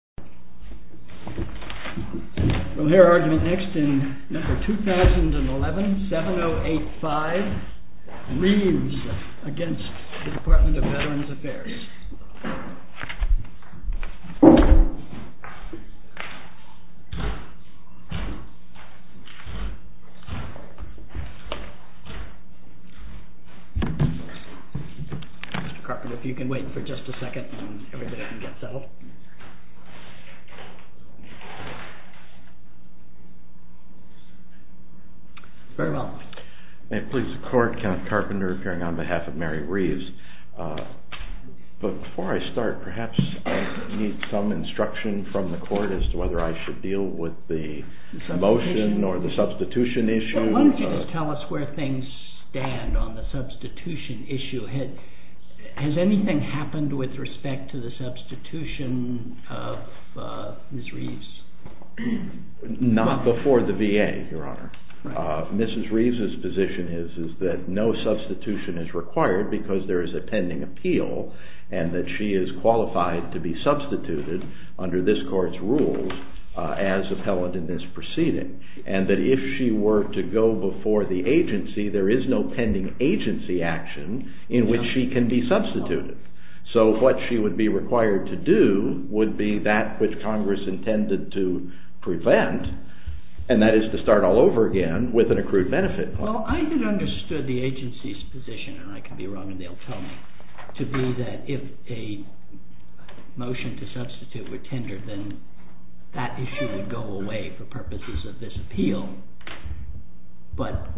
Mr. Carpenter, if you can wait for just a second and everybody can get settled. May it please the court, Kent Carpenter, appearing on behalf of Mary Reeves. Before I start, perhaps I need some instruction from the court as to whether I should deal with the motion or the substitution issue. Why don't you just tell us where things stand on the substitution issue. Has anything happened with respect to the substitution of Mrs. Reeves? Not before the VA, Your Honor. Mrs. Reeves' position is that no substitution is required because there is a pending appeal and that she is qualified to be substituted under this court's rules as appellant in this proceeding. And that if she were to go before the agency, there is no pending agency action in which she can be substituted. So what she would be required to do would be that which Congress intended to prevent, and that is to start all over again with an accrued benefit. Well, I had understood the agency's position, and I could be wrong and they'll tell me, to be that if a motion to substitute were tendered, then that issue would go away for purposes of this appeal, but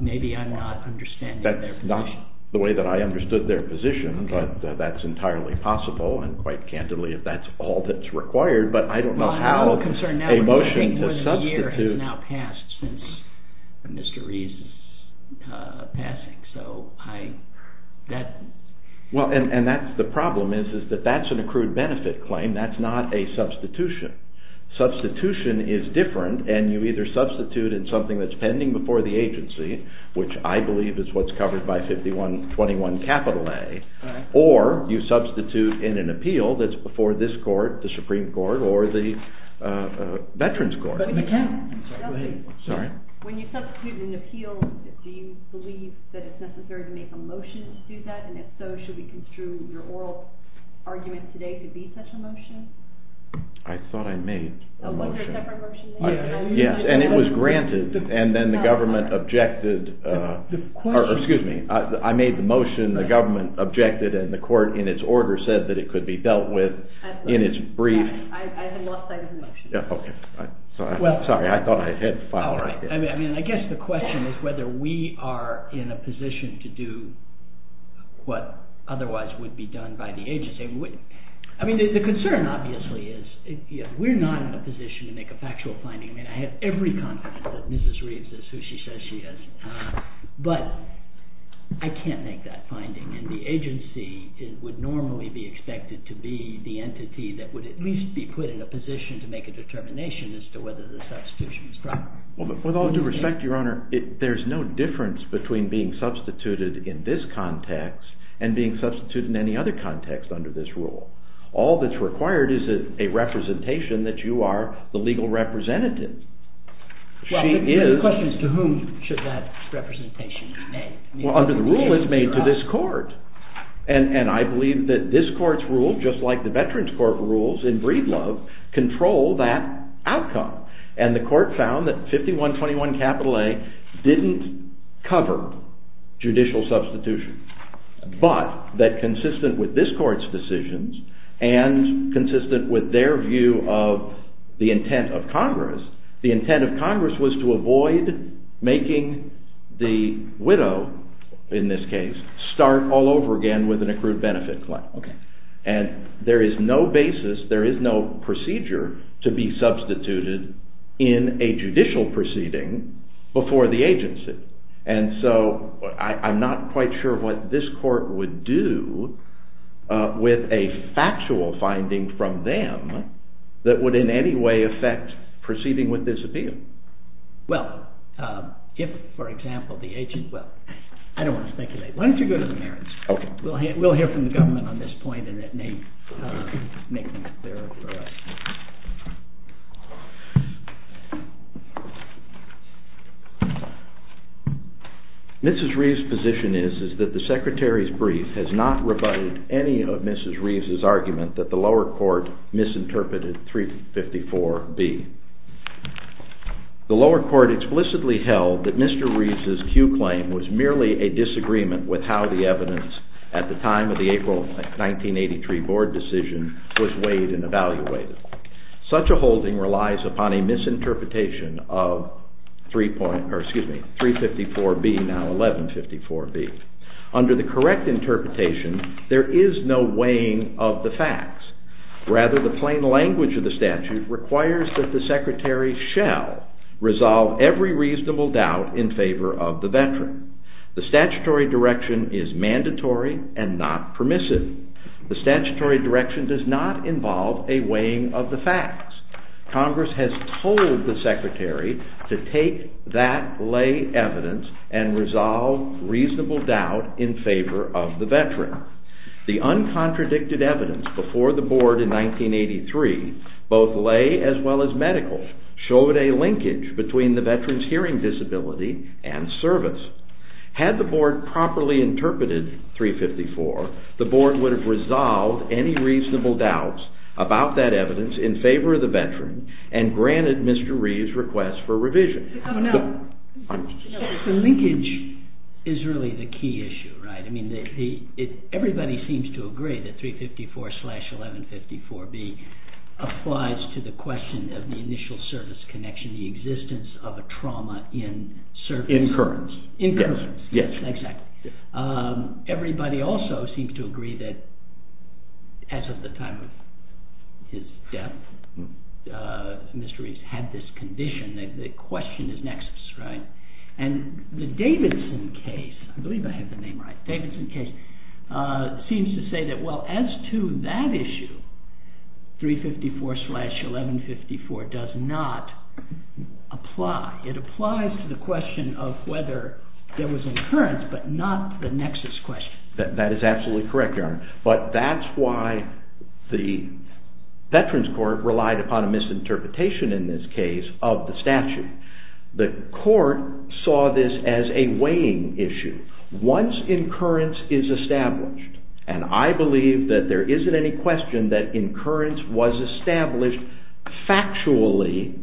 maybe I'm not understanding their position. Well, I'm not the way that I understood their position, but that's entirely possible and quite candidly if that's all that's required, but I don't know how a motion to substitute… Well, I'm concerned now because I think more than a year has now passed since Mr. Reeves' passing, so I… Well, and that's the problem is that that's an accrued benefit claim, that's not a substitution. Substitution is different and you either substitute in something that's pending before the agency, which I believe is what's covered by 5121A, or you substitute in an appeal that's before this court, the Supreme Court, or the Veterans Court. When you substitute in an appeal, do you believe that it's necessary to make a motion to do that, and if so, should we construe your oral argument today to be such a motion? I thought I made a motion. Was there a separate motion? Yes, and it was granted, and then the government objected, or excuse me, I made the motion, the government objected, and the court in its order said that it could be dealt with in its brief… I had lost sight of the motion. Sorry, I thought I had it. I guess the question is whether we are in a position to do what otherwise would be done by the agency. I mean, the concern obviously is we're not in a position to make a factual finding. I mean, I have every confidence that Mrs. Reeves is who she says she is, but I can't make that finding, and the agency would normally be expected to be the entity that would at least be put in a position to make a determination as to whether the substitution is proper. With all due respect, Your Honor, there's no difference between being substituted in this context and being substituted in any other context under this rule. All that's required is a representation that you are the legal representative. The question is to whom should that representation be made? Well, under the rule it's made to this court, and I believe that this court's rule, just like the Veterans Court rules in Breedlove, control that outcome, and the court found that 5121 capital A didn't cover judicial substitution, but that consistent with this court's decisions and consistent with their view of the intent of Congress, the intent of Congress was to avoid making the widow, in this case, start all over again with an accrued benefit claim. And there is no basis, there is no procedure to be substituted in a judicial proceeding before the agency, and so I'm not quite sure what this court would do with a factual finding from them that would in any way affect proceeding with this appeal. Well, if, for example, the agency, well, I don't want to speculate. Why don't you go to the merits? We'll hear from the government on this point and it may make things clearer for us. Mrs. Reeves' position is that the Secretary's brief has not rebutted any of Mrs. Reeves' argument that the lower court misinterpreted 354B. The lower court explicitly held that Mr. Reeves' Q claim was merely a disagreement with how the evidence at the time of the April 1983 board decision was weighed and evaluated. Such a holding relies upon a misinterpretation of 354B, now 1154B. Under the correct interpretation, there is no weighing of the facts. Rather, the plain language of the statute requires that the Secretary shall resolve every reasonable doubt in favor of the veteran. The statutory direction is mandatory and not permissive. The statutory direction does not involve a weighing of the facts. Congress has told the Secretary to take that lay evidence and resolve reasonable doubt in favor of the veteran. The uncontradicted evidence before the board in 1983, both lay as well as medical, showed a linkage between the veteran's hearing disability and service. Had the board properly interpreted 354, the board would have resolved any reasonable doubts about that evidence in favor of the veteran and granted Mr. Reeves' request for revision. Now, the linkage is really the key issue, right? I mean, everybody seems to agree that 354 slash 1154B applies to the question of the initial service connection, the existence of a trauma in service. Incurrence. Incurrence, yes, exactly. Everybody also seems to agree that as of the time of his death, Mr. Reeves had this condition that the question is nexus, right? And the Davidson case, I believe I have the name right, Davidson case, seems to say that, well, as to that issue, 354 slash 1154 does not apply. It applies to the question of whether there was an incurrence, but not the nexus question. That is absolutely correct, Your Honor, but that's why the Veterans Court relied upon a misinterpretation in this case of the statute. The court saw this as a weighing issue. Once incurrence is established, and I believe that there isn't any question that incurrence was established factually,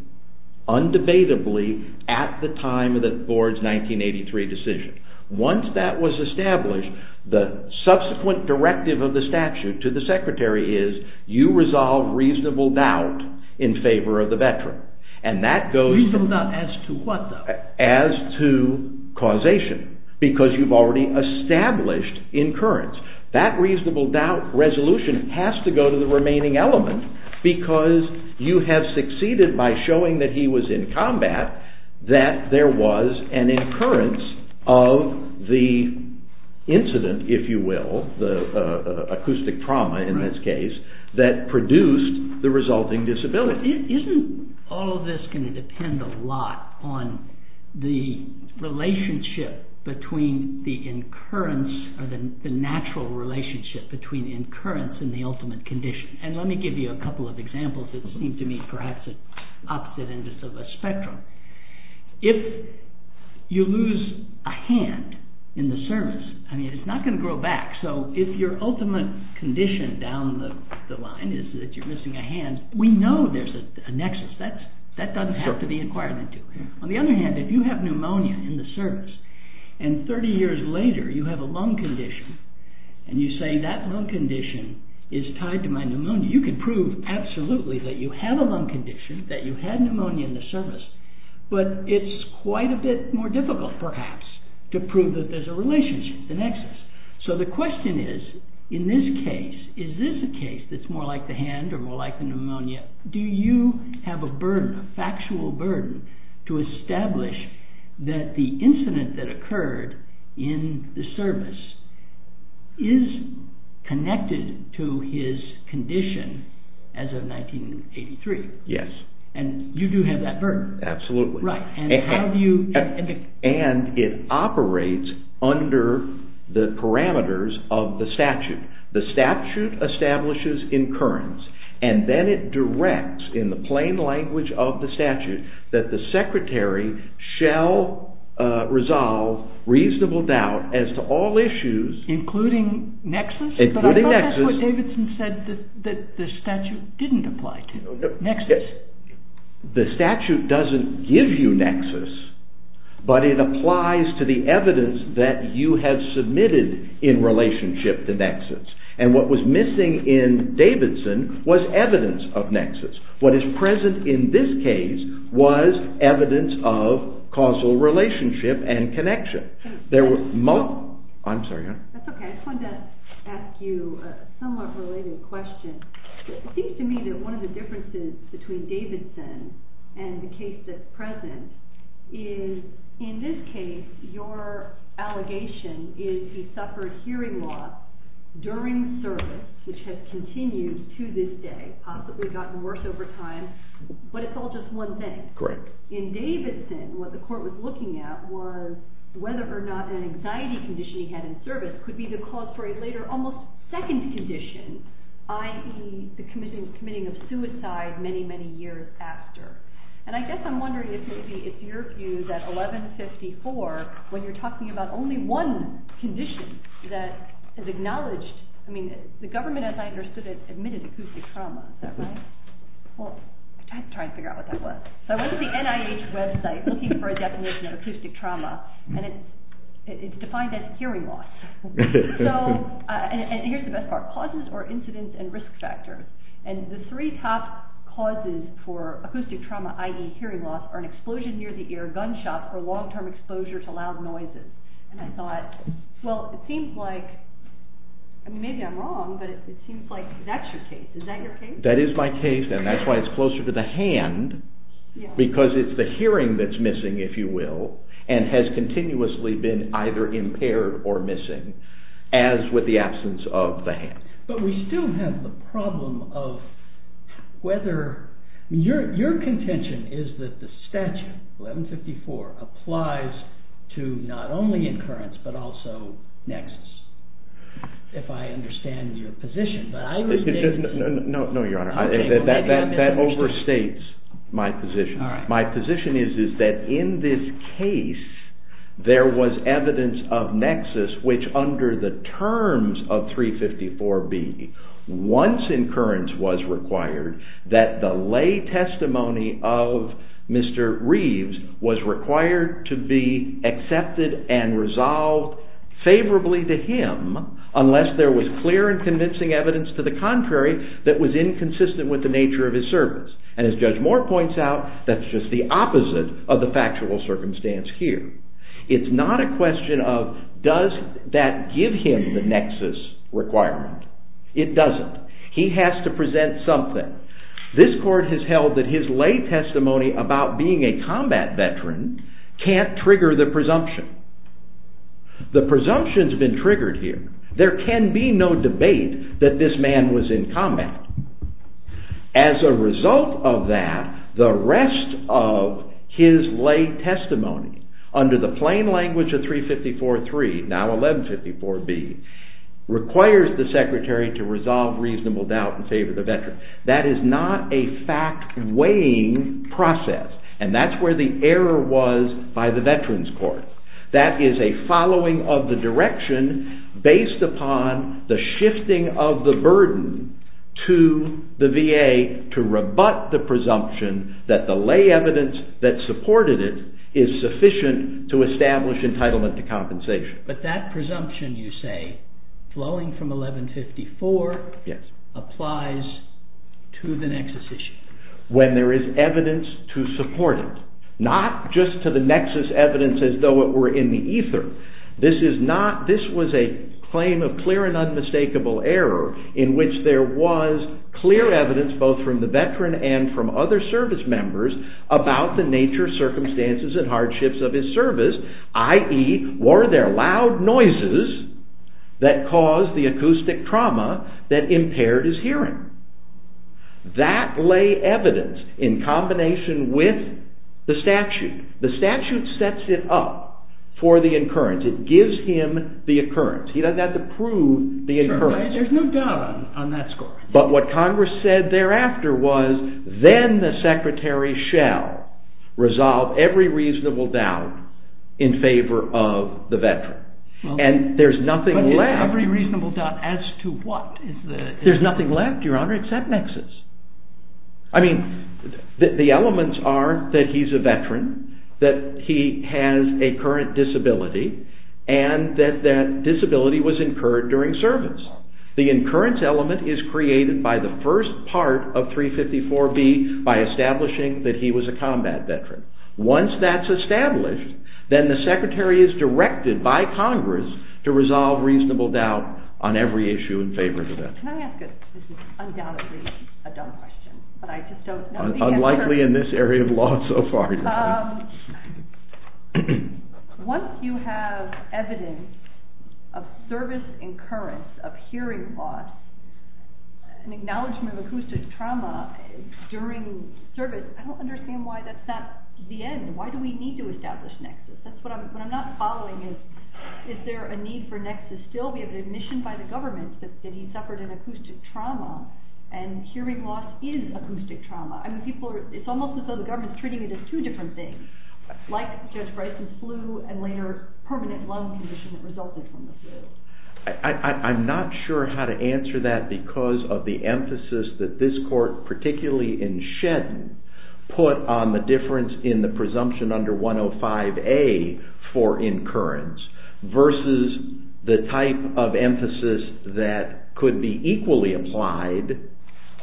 undebatably, at the time of the board's 1983 decision. Once that was established, the subsequent directive of the statute to the secretary is, you resolve reasonable doubt in favor of the veteran. Reasonable doubt as to what, though? As to causation, because you've already established incurrence. That reasonable doubt resolution has to go to the remaining element, because you have succeeded by showing that he was in combat, that there was an incurrence of the incident, if you will, the acoustic trauma in this case, that produced the resulting disability. But isn't all of this going to depend a lot on the relationship between the incurrence, or the natural relationship between incurrence and the ultimate condition? And let me give you a couple of examples that seem to me perhaps at opposite ends of a spectrum. If you lose a hand in the service, it's not going to grow back. So if your ultimate condition down the line is that you're missing a hand, we know there's a nexus. That doesn't have to be inquired into. On the other hand, if you have pneumonia in the service, and 30 years later you have a lung condition, and you say that lung condition is tied to my pneumonia, you can prove absolutely that you have a lung condition, that you had pneumonia in the service, but it's quite a bit more difficult, perhaps, to prove that there's a relationship, an excess. So the question is, in this case, is this a case that's more like the hand or more like the pneumonia? Do you have a burden, a factual burden, to establish that the incident that occurred in the service is connected to his condition as of 1983? And you do have that burden. Absolutely. And how do you... And it operates under the parameters of the statute. The statute establishes incurrence, and then it directs in the plain language of the statute that the secretary shall resolve reasonable doubt as to all issues... Including nexus? Including nexus. Well, that's what Davidson said, that the statute didn't apply to. Nexus. The statute doesn't give you nexus, but it applies to the evidence that you have submitted in relationship to nexus. And what was missing in Davidson was evidence of nexus. What is present in this case was evidence of causal relationship and connection. That's okay. I just wanted to ask you a somewhat related question. It seems to me that one of the differences between Davidson and the case that's present is, in this case, your allegation is he suffered hearing loss during service, which has continued to this day, possibly gotten worse over time, but it's all just one thing. Correct. In Davidson, what the court was looking at was whether or not an anxiety condition he had in service could be the cause for a later, almost second condition, i.e., the committing of suicide many, many years after. And I guess I'm wondering if maybe it's your view that 1154, when you're talking about only one condition that is acknowledged... I mean, the government, as I understood it, admitted acoustic trauma. Is that right? Well, I have to try and figure out what that was. So I went to the NIH website looking for a definition of acoustic trauma, and it's defined as hearing loss. And here's the best part. Causes are incidents and risk factors. And the three top causes for acoustic trauma, i.e., hearing loss, are an explosion near the ear, gunshot, or long-term exposure to loud noises. And I thought, well, it seems like... I mean, maybe I'm wrong, but it seems like that's your case. Is that your case? But we still have the problem of whether... Your contention is that the statute, 1154, applies to not only incurrence, but also nexus, if I understand your position. No, Your Honor. That overstates my position. My position is that in this case, there was evidence of nexus, which under the terms of 354B, once incurrence was required, that the lay testimony of Mr. Reeves was required to be accepted and resolved favorably to him unless there was clear and convincing evidence to the contrary that was inconsistent with the nature of his service. And as Judge Moore points out, that's just the opposite of the factual circumstance here. It's not a question of does that give him the nexus requirement. It doesn't. He has to present something. This Court has held that his lay testimony about being a combat veteran can't trigger the presumption. The presumption's been triggered here. There can be no debate that this man was in combat. As a result of that, the rest of his lay testimony under the plain language of 354.3, now 1154B, requires the Secretary to resolve reasonable doubt in favor of the veteran. That is not a fact-weighing process, and that's where the error was by the Veterans Court. That is a following of the direction based upon the shifting of the burden to the VA to rebut the presumption that the lay evidence that supported it is sufficient to establish entitlement to compensation. But that presumption, you say, flowing from 1154, applies to the nexus issue. When there is evidence to support it, not just to the nexus evidence as though it were in the ether. This was a claim of clear and unmistakable error in which there was clear evidence, both from the veteran and from other service members, about the nature, circumstances, and hardships of his service, i.e., were there loud noises that caused the acoustic trauma that impaired his hearing? That lay evidence in combination with the statute. The statute sets it up for the occurrence. It gives him the occurrence. He doesn't have to prove the occurrence. There's no doubt on that score. But what Congress said thereafter was, then the Secretary shall resolve every reasonable doubt in favor of the veteran. But every reasonable doubt as to what? There's nothing left, Your Honor, except nexus. I mean, the elements are that he's a veteran, that he has a current disability, and that that disability was incurred during service. The incurrence element is created by the first part of 354B by establishing that he was a combat veteran. Once that's established, then the Secretary is directed by Congress to resolve reasonable doubt on every issue in favor of the veteran. Can I ask an undoubtedly dumb question? Unlikely in this area of law so far, Your Honor. Once you have evidence of service incurrence, of hearing loss, an acknowledgement of acoustic trauma during service, I don't understand why that's not the end. Why do we need to establish nexus? What I'm not following is, is there a need for nexus still? We have an admission by the government that he suffered an acoustic trauma, and hearing loss is acoustic trauma. It's almost as though the government is treating it as two different things, like Judge Bryson's flu and later permanent lung condition that resulted from the flu. I'm not sure how to answer that because of the emphasis that this Court, particularly in Shedden, put on the difference in the presumption under 105A for incurrence versus the type of emphasis that could be equally applied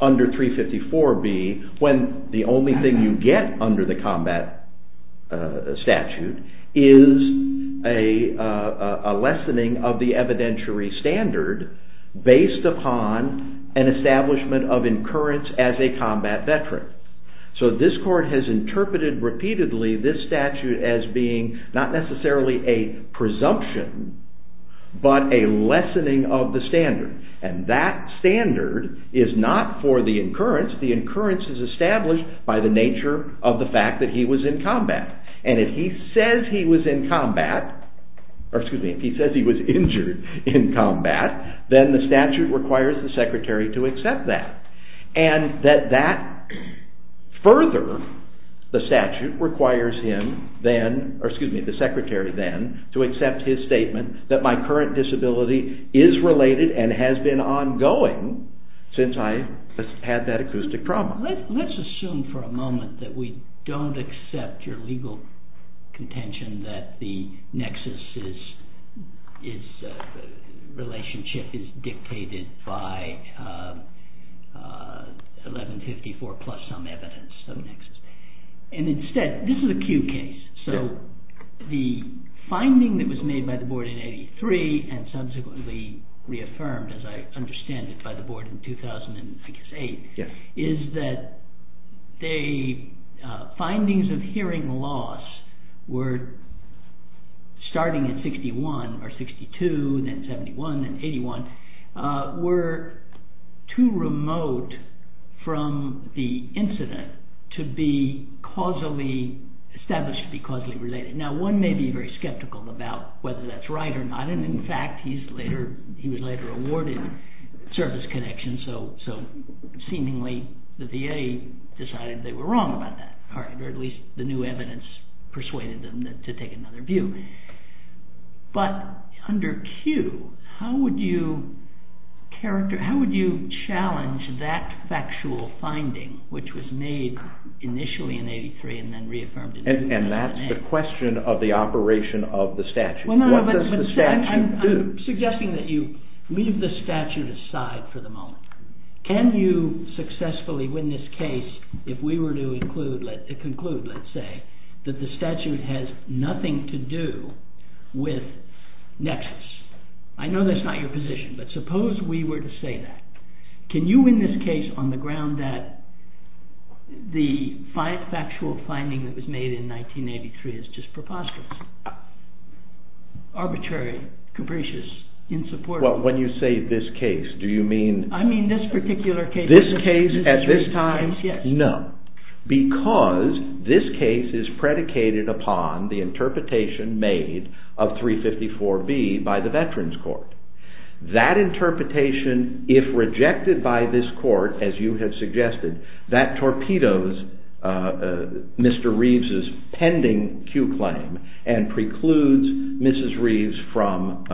under 354B when the only thing you get under the combat statute is a lessening of the evidentiary standard based upon an establishment of incurrence as a combat veteran. So this Court has interpreted repeatedly this statute as being not necessarily a presumption, but a lessening of the standard. And that standard is not for the incurrence. The incurrence is established by the nature of the fact that he was in combat. And if he says he was in combat, or excuse me, if he says he was injured in combat, then the statute requires the Secretary to accept that. And that further, the statute requires him then, or excuse me, the Secretary then, to accept his statement that my current disability is related and has been ongoing since I had that acoustic trauma. Now let's assume for a moment that we don't accept your legal contention that the Nexus relationship is dictated by 1154 plus some evidence of Nexus. And instead, this is a Q case, so the finding that was made by the Board in 83 and subsequently reaffirmed, as I understand it, by the Board in 2008, is that the findings of hearing loss were starting at 61, or 62, then 71, then 81, were too remote from the incident to be causally established, to be causally related. Now one may be very skeptical about whether that's right or not, and in fact, he was later awarded service connection, so seemingly the VA decided they were wrong about that, or at least the new evidence persuaded them to take another view. But under Q, how would you challenge that factual finding, which was made initially in 83 and then reaffirmed in 2008? And that's the question of the operation of the statute. What does the statute do? I'm suggesting that you leave the statute aside for the moment. Can you successfully win this case if we were to conclude, let's say, that the statute has nothing to do with Nexus? I know that's not your position, but suppose we were to say that. Can you win this case on the ground that the factual finding that was made in 1983 is just preposterous, arbitrary, capricious, insupportable? I mean this particular case. This case at this time? No. Because this case is predicated upon the interpretation made of 354B by the Veterans Court. That interpretation, if rejected by this court, as you have suggested, that torpedoes Mr. Reeves's pending Q claim and precludes Mrs. Reeves from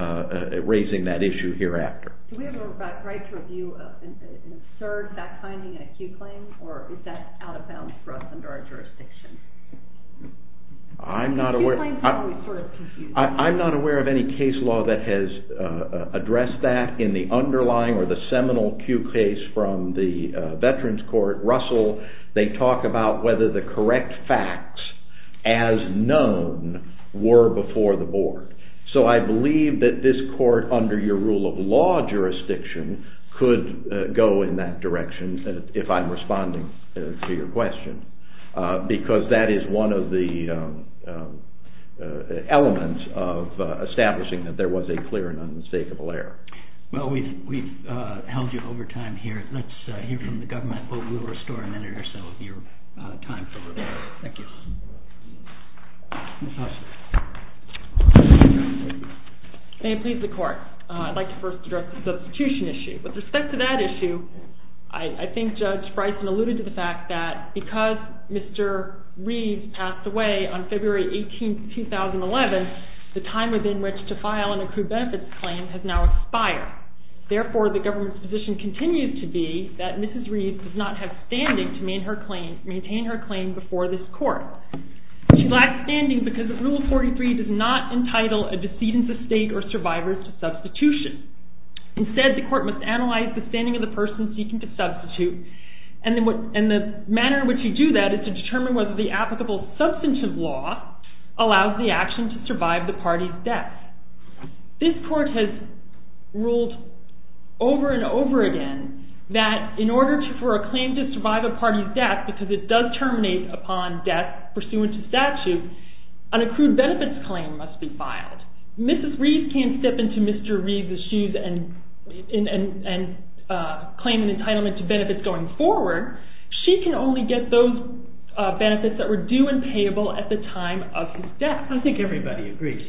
raising that issue hereafter. Do we have a right to review an absurd fact-finding in a Q claim, or is that out of bounds for us under our jurisdiction? I'm not aware of any case law that has addressed that in the underlying or the seminal Q case from the Veterans Court. Russell, they talk about whether the correct facts, as known, were before the board. So I believe that this court, under your rule of law jurisdiction, could go in that direction, if I'm responding to your question, because that is one of the elements of establishing that there was a clear and unmistakable error. Well, we've held you over time here. Let's hear from the government, but we'll restore a minute or so of your time for rebuttal. Thank you. May it please the Court. I'd like to first address the substitution issue. With respect to that issue, I think Judge Bryson alluded to the fact that because Mr. Reeves passed away on February 18, 2011, the time within which to file an accrued benefits claim has now expired. Therefore, the government's position continues to be that Mrs. Reeves does not have standing to maintain her claim before this court. She lacks standing because Rule 43 does not entitle a decedent of state or survivor to substitution. Instead, the court must analyze the standing of the person seeking to substitute, and the manner in which you do that is to determine whether the applicable substantive law allows the action to survive the party's death. This court has ruled over and over again that in order for a claim to survive a party's death, because it does terminate upon death pursuant to statute, an accrued benefits claim must be filed. Mrs. Reeves can't step into Mr. Reeves' shoes and claim an entitlement to benefits going forward. She can only get those benefits that were due and payable at the time of his death. I think everybody agrees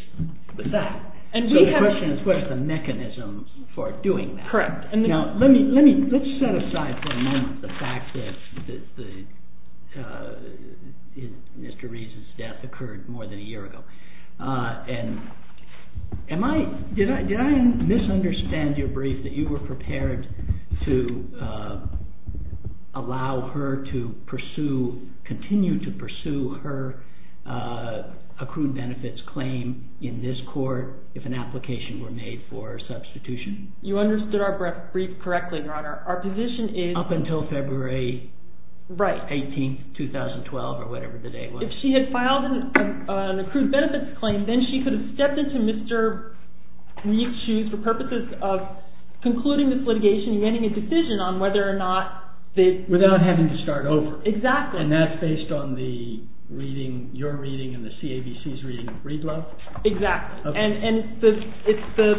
with that. So the question is what are the mechanisms for doing that? Correct. Let's set aside for a moment the fact that Mr. Reeves' death occurred more than a year ago. Did I misunderstand your brief that you were prepared to allow her to continue to pursue her accrued benefits claim in this court if an application were made for substitution? You understood our brief correctly, Your Honor. Our position is… Up until February 18, 2012, or whatever the date was. If she had filed an accrued benefits claim, then she could have stepped into Mr. Reeves' shoes for purposes of concluding this litigation and getting a decision on whether or not… Without having to start over. Exactly. And that's based on your reading and the CABC's reading of Read Love? Exactly. And it's the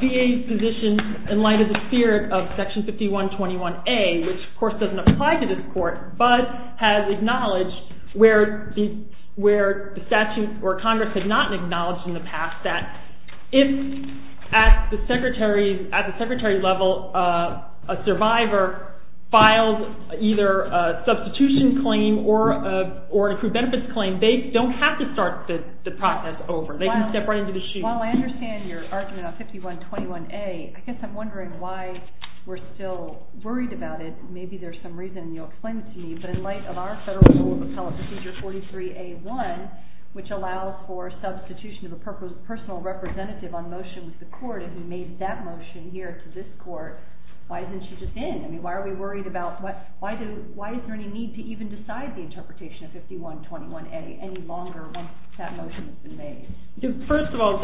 VA's position in light of the spirit of Section 5121A, which of course doesn't apply to this court, but has acknowledged where the statute or Congress had not acknowledged in the past that if at the secretary level a survivor files either a substitution claim or an accrued benefits claim, then they don't have to start the process over. They can step right into the shoes. Well, I understand your argument on 5121A. I guess I'm wondering why we're still worried about it. Maybe there's some reason you'll explain it to me. But in light of our federal rule of appellate procedure 43A.1, which allows for substitution of a personal representative on motion with the court, if we made that motion here to this court, why isn't she just in? I mean, why are we worried about… Why is there any need to even decide the interpretation of 5121A any longer once that motion has been made? First of all,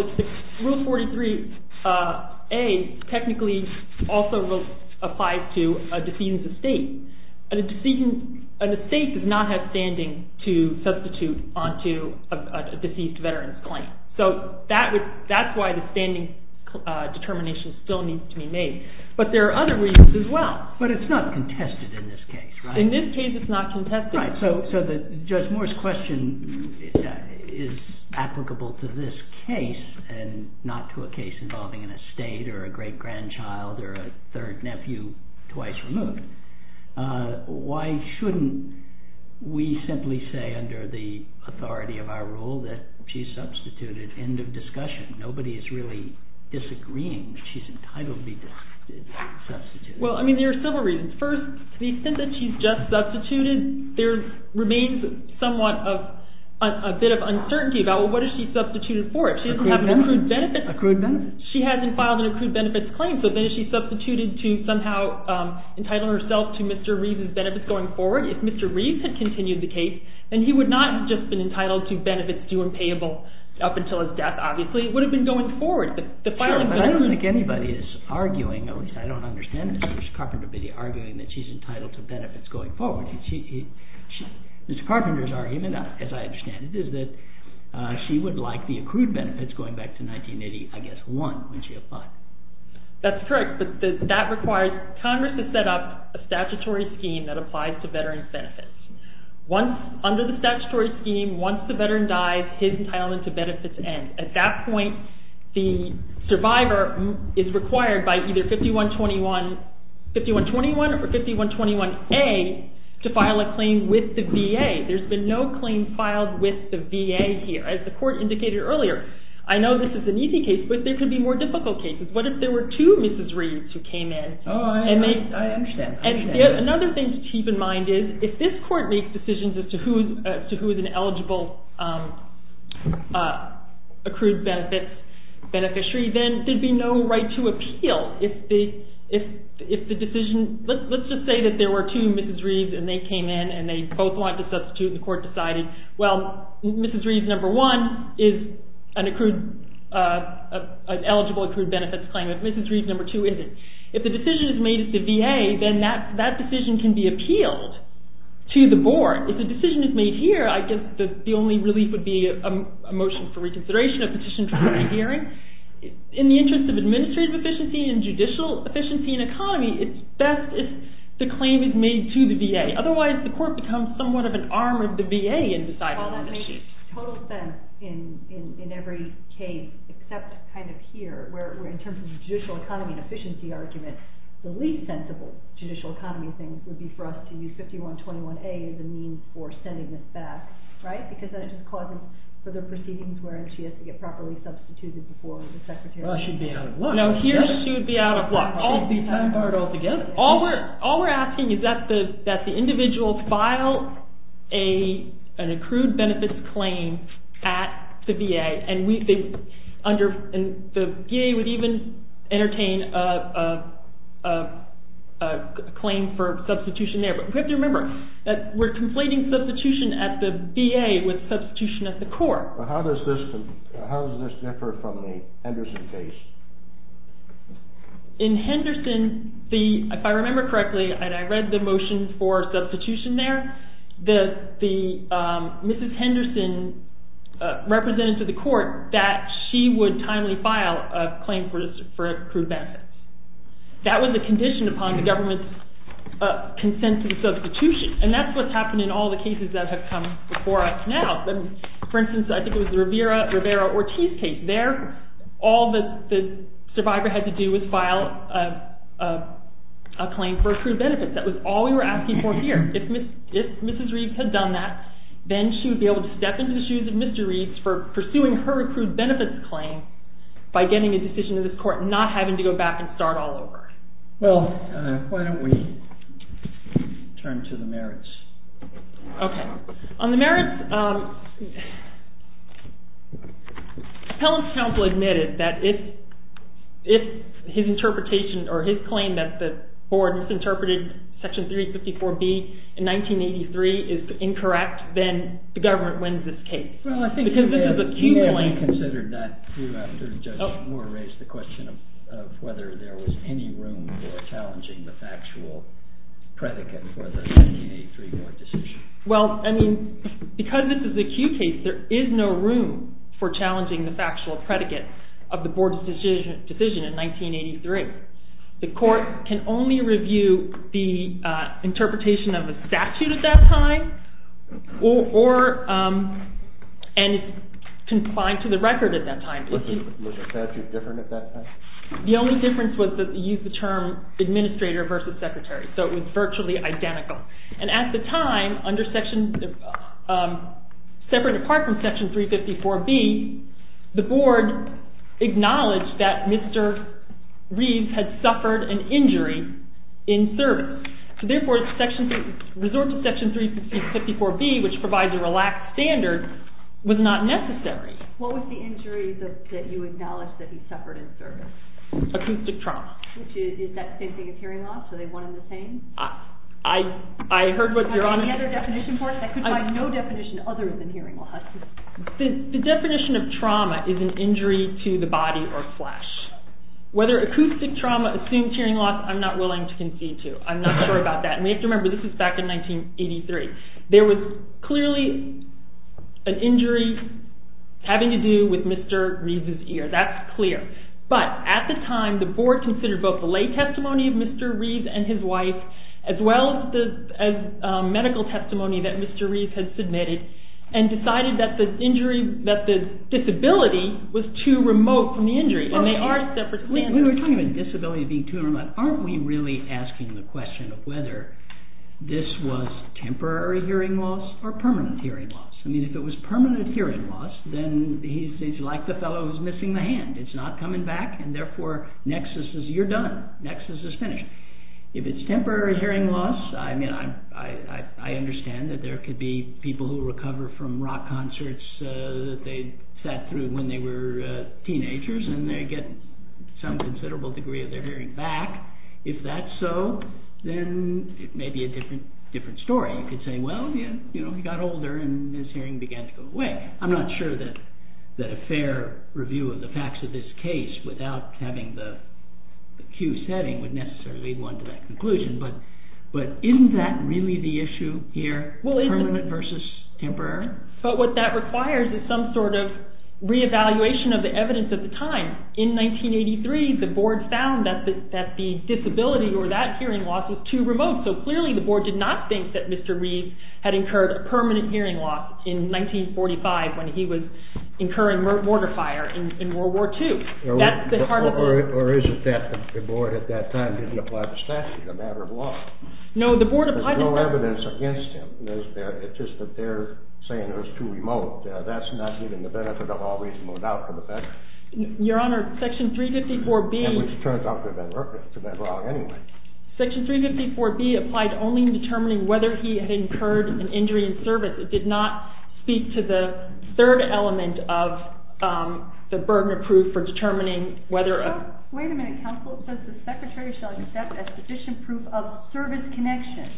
Rule 43A technically also applies to a deceased estate. An estate does not have standing to substitute onto a deceased veteran's claim. So that's why the standing determination still needs to be made. But there are other reasons as well. But it's not contested in this case, right? In this case, it's not contested. All right. So Judge Moore's question is applicable to this case and not to a case involving an estate or a great-grandchild or a third nephew twice removed. Why shouldn't we simply say under the authority of our rule that she's substituted? End of discussion. Nobody is really disagreeing that she's entitled to be substituted. Well, I mean, there are several reasons. First, to the extent that she's just substituted, there remains somewhat of a bit of uncertainty about, well, what has she substituted for? She doesn't have an accrued benefit. Accrued benefit. She hasn't filed an accrued benefits claim, so then is she substituted to somehow entitling herself to Mr. Reeve's benefits going forward? If Mr. Reeve had continued the case, then he would not have just been entitled to benefits due and payable up until his death, obviously. It would have been going forward. Sure, but I don't think anybody is arguing, at least I don't understand Ms. Carpenter's argument, that she's entitled to benefits going forward. Ms. Carpenter's argument, as I understand it, is that she would like the accrued benefits going back to 1980, I guess, 1, when she applied. That's correct, but Congress has set up a statutory scheme that applies to veterans' benefits. Under the statutory scheme, once the veteran dies, his entitlement to benefits ends. At that point, the survivor is required by either 5121 or 5121A to file a claim with the VA. There's been no claim filed with the VA here. As the court indicated earlier, I know this is an easy case, but there could be more difficult cases. What if there were two Mrs. Reeves who came in? I understand. Another thing to keep in mind is if this court makes decisions as to who is an eligible accrued benefits beneficiary, then there would be no right to appeal. Let's just say that there were two Mrs. Reeves and they came in and they both wanted to substitute and the court decided, well, Mrs. Reeves, number one, is an eligible accrued benefits claim. Mrs. Reeves, number two, isn't. If the decision is made at the VA, then that decision can be appealed to the board. If the decision is made here, I guess the only relief would be a motion for reconsideration, a petition for hearing. In the interest of administrative efficiency and judicial efficiency and economy, it's best if the claim is made to the VA. Otherwise, the court becomes somewhat of an arm of the VA in deciding the issue. Well, that makes total sense in every case, except kind of here, where in terms of judicial economy and efficiency argument, the least sensible judicial economy thing would be for us to use 5121A as a means for sending this back, right? Because that just causes further proceedings where she has to get properly substituted before the secretary. Well, she'd be out of luck. No, here she'd be out of luck. She'd be time-barred altogether. All we're asking is that the individual file an accrued benefits claim at the VA, and the VA would even entertain a claim for substitution there. But we have to remember that we're completing substitution at the VA with substitution at the court. How does this differ from the Henderson case? In Henderson, if I remember correctly, and I read the motion for substitution there, Mrs. Henderson represented to the court that she would timely file a claim for accrued benefits. That was the condition upon the government's consent to the substitution, and that's what's happened in all the cases that have come before us now. For instance, I think it was the Rivera-Ortiz case. There, all the survivor had to do was file a claim for accrued benefits. That was all we were asking for here. If Mrs. Reeves had done that, then she would be able to step into the shoes of Mr. Reeves for pursuing her accrued benefits claim by getting a decision to this court and not having to go back and start all over. Well, why don't we turn to the merits? Okay. On the merits, Appellant's counsel admitted that if his interpretation or his claim that the board misinterpreted Section 354B in 1983 is incorrect, then the government wins this case. You may have reconsidered that after Judge Moore raised the question of whether there was any room for challenging the factual predicate for the 1983 board decision. Well, I mean, because this is an acute case, there is no room for challenging the factual predicate of the board's decision in 1983. The court can only review the interpretation of the statute at that time, and it's confined to the record at that time. Was the statute different at that time? The only difference was that they used the term administrator versus secretary, so it was virtually identical. And at the time, separate and apart from Section 354B, the board acknowledged that Mr. Reeves had suffered an injury in service. Therefore, resorting to Section 354B, which provides a relaxed standard, was not necessary. What was the injury that you acknowledged that he suffered in service? Acoustic trauma. Is that the same thing as hearing loss? Are they one and the same? I heard what you're on about. Is there any other definition for it? I could find no definition other than hearing loss. The definition of trauma is an injury to the body or flesh. Whether acoustic trauma assumes hearing loss, I'm not willing to concede to. I'm not sure about that. And we have to remember, this is back in 1983. There was clearly an injury having to do with Mr. Reeves' ear. That's clear. But at the time, the board considered both the lay testimony of Mr. Reeves and his wife, as well as medical testimony that Mr. Reeves had submitted, and decided that the disability was too remote from the injury, and they are separate standards. We were talking about disability being too remote. Aren't we really asking the question of whether this was temporary hearing loss or permanent hearing loss? If it was permanent hearing loss, then he's like the fellow who's missing the hand. It's not coming back, and therefore, you're done. Nexus is finished. If it's temporary hearing loss, I understand that there could be people who recover from rock concerts that they sat through when they were teenagers, and they get some considerable degree of their hearing back. If that's so, then it may be a different story. You could say, well, he got older, and his hearing began to go away. I'm not sure that a fair review of the facts of this case without having the cue setting would necessarily lead one to that conclusion, but isn't that really the issue here? Permanent versus temporary? But what that requires is some sort of re-evaluation of the evidence at the time. In 1983, the board found that the disability or that hearing loss was too remote, so clearly the board did not think that Mr. Reeves had incurred a permanent hearing loss in 1945 when he was incurring mortar fire in World War II. Or is it that the board at that time didn't apply the statute, a matter of law? No, the board applied the statute. There's no evidence against him. It's just that they're saying it was too remote. That's not giving the benefit of all reasonable doubt to the fact that... Your Honor, Section 354B... Which turns out to have been wrong anyway. Section 354B applied only in determining whether he had incurred an injury in service. It did not speak to the third element of the burden of proof for determining whether... Wait a minute, counsel. It says the secretary shall accept as sufficient proof of service connection.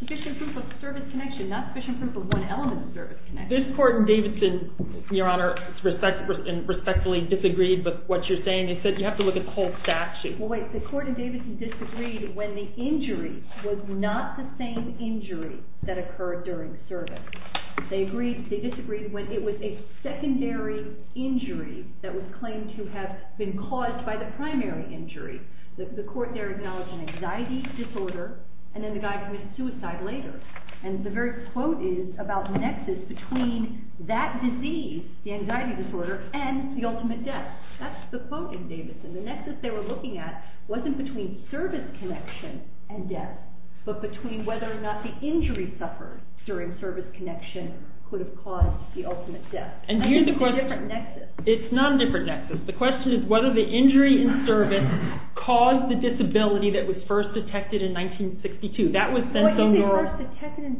Sufficient proof of service connection, not sufficient proof of one element of service connection. This court in Davidson, Your Honor, respectfully disagreed with what you're saying. It said you have to look at the whole statute. Well, wait. The court in Davidson disagreed when the injury was not the same injury that occurred during service. They disagreed when it was a secondary injury that was claimed to have been caused by the primary injury. The court there acknowledged an anxiety disorder, and then the guy committed suicide later. And the very quote is about the nexus between that disease, the anxiety disorder, and the ultimate death. That's the quote in Davidson. The nexus they were looking at wasn't between service connection and death, but between whether or not the injury suffered during service connection could have caused the ultimate death. I think it's a different nexus. It's not a different nexus. The question is whether the injury in service caused the disability that was first detected in 1962. That was sense only. Well, you say first detected in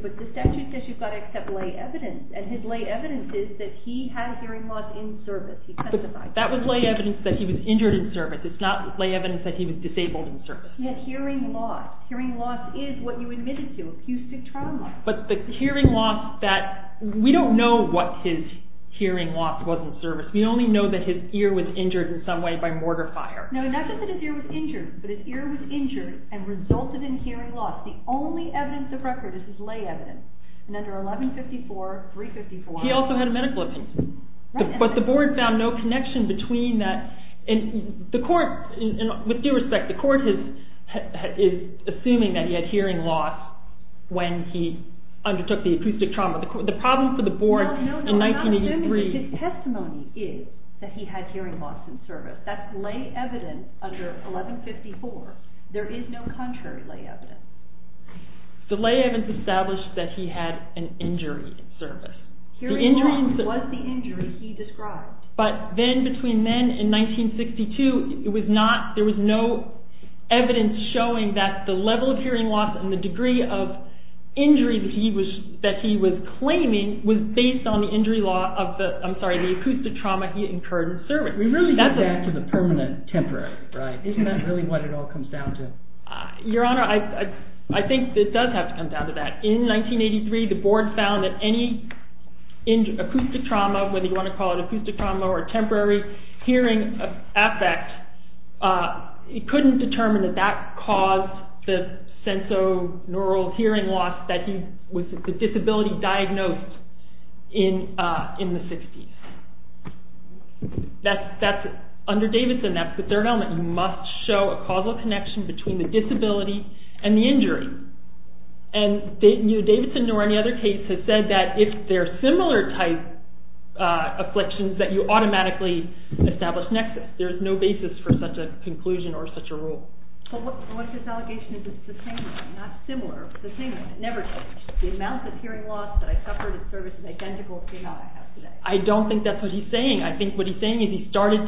1962, but the statute says you've got to accept lay evidence, and his lay evidence is that he had hearing loss in service. But that was lay evidence that he was injured in service. It's not lay evidence that he was disabled in service. He had hearing loss. Hearing loss is what you admitted to, acoustic trauma. But the hearing loss that we don't know what his hearing loss was in service. We only know that his ear was injured in some way by mortar fire. No, not just that his ear was injured, but his ear was injured and resulted in hearing loss. The only evidence of record is his lay evidence. And under 1154, 354… He also had a medical opinion. But the board found no connection between that. The court, with due respect, the court is assuming that he had hearing loss when he undertook the acoustic trauma. The problem for the board in 1983… No, no, we're not assuming that his testimony is that he had hearing loss in service. That's lay evidence under 1154. There is no contrary lay evidence. The lay evidence established that he had an injury in service. Hearing loss was the injury he described. But then, between then and 1962, it was not, there was no evidence showing that the level of hearing loss and the degree of injury that he was claiming was based on the injury law of the, I'm sorry, the acoustic trauma he incurred in service. We really need to get back to the permanent, temporary, right? Isn't that really what it all comes down to? Your Honor, I think it does have to come down to that. In 1983, the board found that any acoustic trauma, whether you want to call it acoustic trauma or temporary hearing effect, it couldn't determine that that caused the sensorineural hearing loss that he was, the disability diagnosed in the 60s. That's, under Davidson, that's the third element. You must show a causal connection between the disability and the injury. And neither Davidson nor any other case has said that if they're similar type afflictions that you automatically establish nexus. There's no basis for such a conclusion or such a rule. But what his allegation is, it's the same thing, not similar, it's the same thing. It never changed. The amount of hearing loss that I suffered in service is identical to the amount I have today. I don't think that's what he's saying. I think what he's saying is he started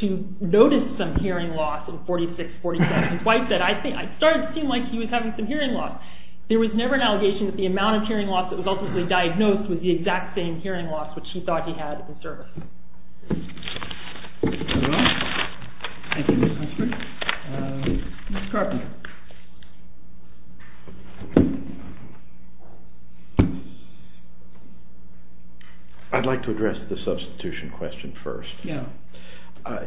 to notice some hearing loss in 46, 47. His wife said, I started to seem like he was having some hearing loss. There was never an allegation that the amount of hearing loss that was ultimately diagnosed was the exact same hearing loss which he thought he had in service. I'd like to address the substitution question first.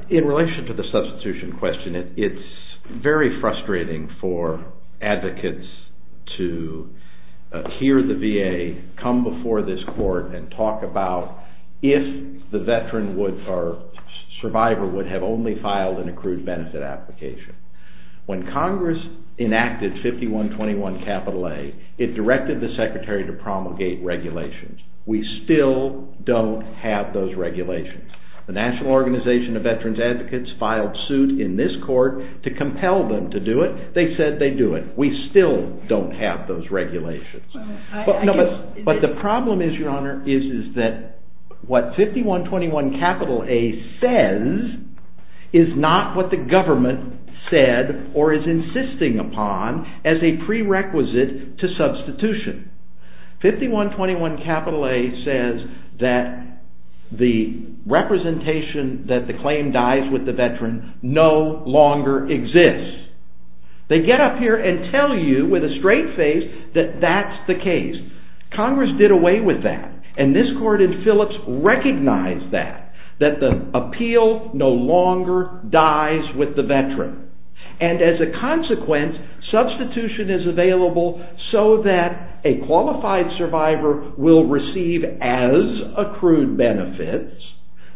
In relation to the substitution question, it's very frustrating for advocates to hear the VA come before this court and talk about if the veteran or survivor would have only filed an accrued benefit application. When Congress enacted 5121A, it directed the Secretary to promulgate regulations. We still don't have those regulations. The National Organization of Veterans Advocates filed suit in this court to compel them to do it. They said they'd do it. We still don't have those regulations. But the problem is, Your Honor, is that what 5121A says is not what the government said or is insisting upon as a prerequisite to substitution. 5121A says that the representation that the claim dies with the veteran no longer exists. They get up here and tell you with a straight face that that's the case. Congress did away with that. And this court in Phillips recognized that. And as a consequence, substitution is available so that a qualified survivor will receive as accrued benefits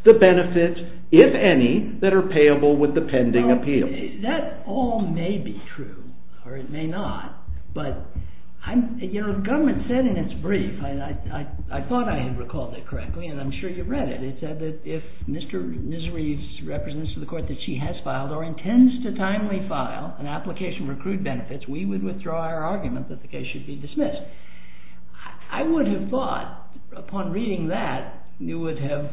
the benefits, if any, that are payable with the pending appeal. That all may be true, or it may not. But the government said in its brief, and I thought I had recalled it correctly, and I'm sure you read it, it said that if Mr. Misery's representation of the court that she has filed or intends to timely file an application for accrued benefits, we would withdraw our argument that the case should be dismissed. I would have thought, upon reading that, you would have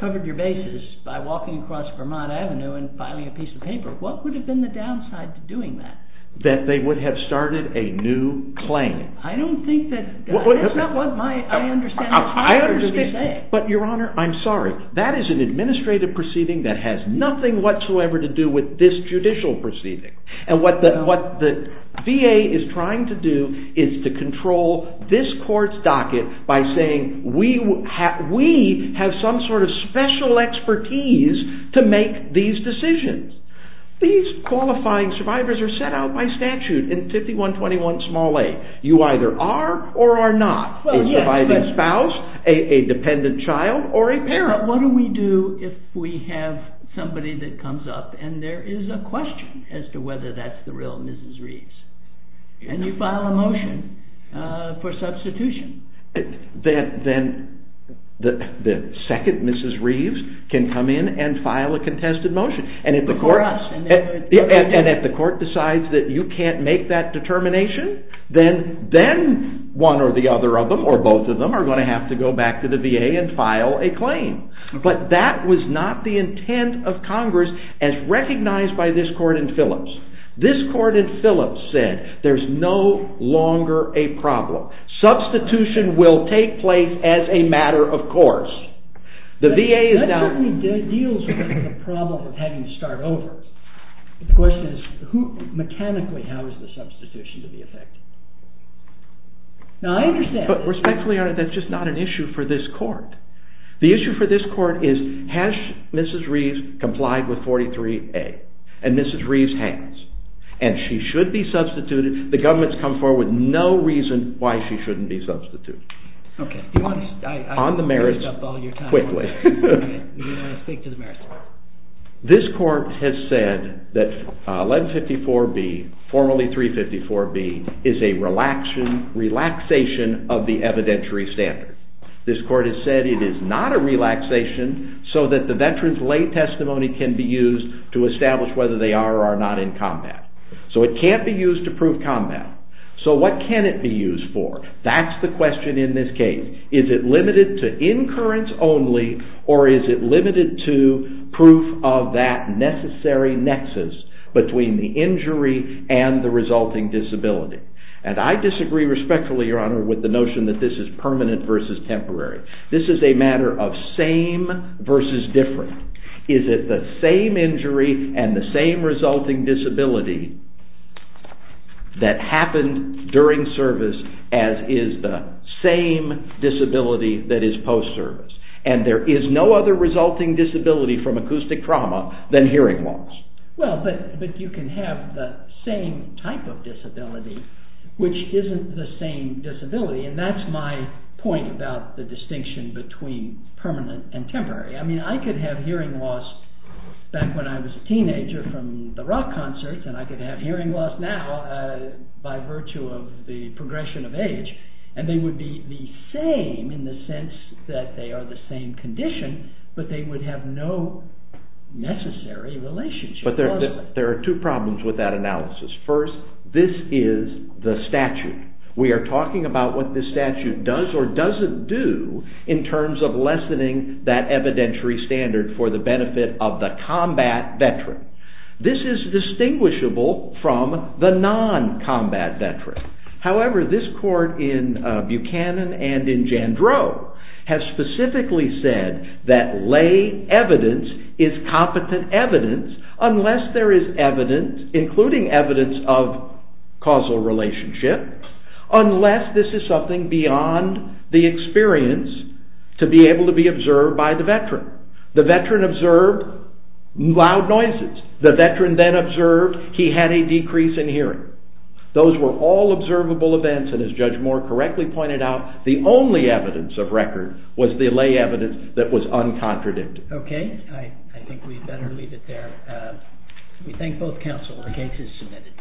covered your bases by walking across Vermont Avenue and filing a piece of paper. What would have been the downside to doing that? That they would have started a new claim. I don't think that... That's not what I understand. But, Your Honor, I'm sorry. That is an administrative proceeding that has nothing whatsoever to do with this judicial proceeding. And what the VA is trying to do is to control this court's docket by saying we have some sort of special expertise to make these decisions. These qualifying survivors are set out by statute in 5121a. You either are or are not a surviving spouse, a dependent child, or a parent. But what do we do if we have somebody that comes up and there is a question as to whether that's the real Mrs. Reeves? And you file a motion for substitution. Then the second Mrs. Reeves can come in and file a contested motion. And if the court decides that you can't make that determination, then one or the other of them, or both of them, are going to have to go back to the VA and file a claim. But that was not the intent of Congress as recognized by this court in Phillips. This court in Phillips said there's no longer a problem. Substitution will take place as a matter of course. The VA is now... That certainly deals with the problem of having to start over. The question is, mechanically, how is the substitution to be effected? Now, I understand... But respectfully, Your Honor, that's just not an issue for this court. The issue for this court is, has Mrs. Reeves complied with 43a? And Mrs. Reeves has. And she should be substituted. The government's come forward with no reason why she shouldn't be substituted. Okay. On the merits, quickly. You don't want to speak to the merits? This court has said that 1154B, formerly 354B, is a relaxation of the evidentiary standard. This court has said it is not a relaxation so that the veteran's lay testimony can be used to establish whether they are or are not in combat. So it can't be used to prove combat. So what can it be used for? That's the question in this case. Is it limited to incurrence only, or is it limited to proof of that necessary nexus between the injury and the resulting disability? And I disagree respectfully, Your Honor, with the notion that this is permanent versus temporary. This is a matter of same versus different. Is it the same injury and the same resulting disability that happened during service as is the same disability that is post-service? And there is no other resulting disability from acoustic trauma than hearing loss. Well, but you can have the same type of disability which isn't the same disability, and that's my point about the distinction between permanent and temporary. I mean, I could have hearing loss back when I was a teenager from the rock concerts, and I could have hearing loss now by virtue of the progression of age, and they would be the same in the sense that they are the same condition, but they would have no necessary relationship. But there are two problems with that analysis. First, this is the statute. We are talking about what this statute does or doesn't do in terms of lessening that evidentiary standard for the benefit of the combat veteran. This is distinguishable from the non-combat veteran. However, this court in Buchanan and in Jandreau has specifically said that lay evidence is competent evidence unless there is evidence, including evidence of causal relationship, unless this is something beyond the experience to be able to be observed by the veteran. The veteran observed loud noises. The veteran then observed he had a decrease in hearing. Those were all observable events, and as Judge Moore correctly pointed out, the only evidence of record was the lay evidence that was uncontradicted. Okay, I think we'd better leave it there. We thank both counsel. The case is submitted.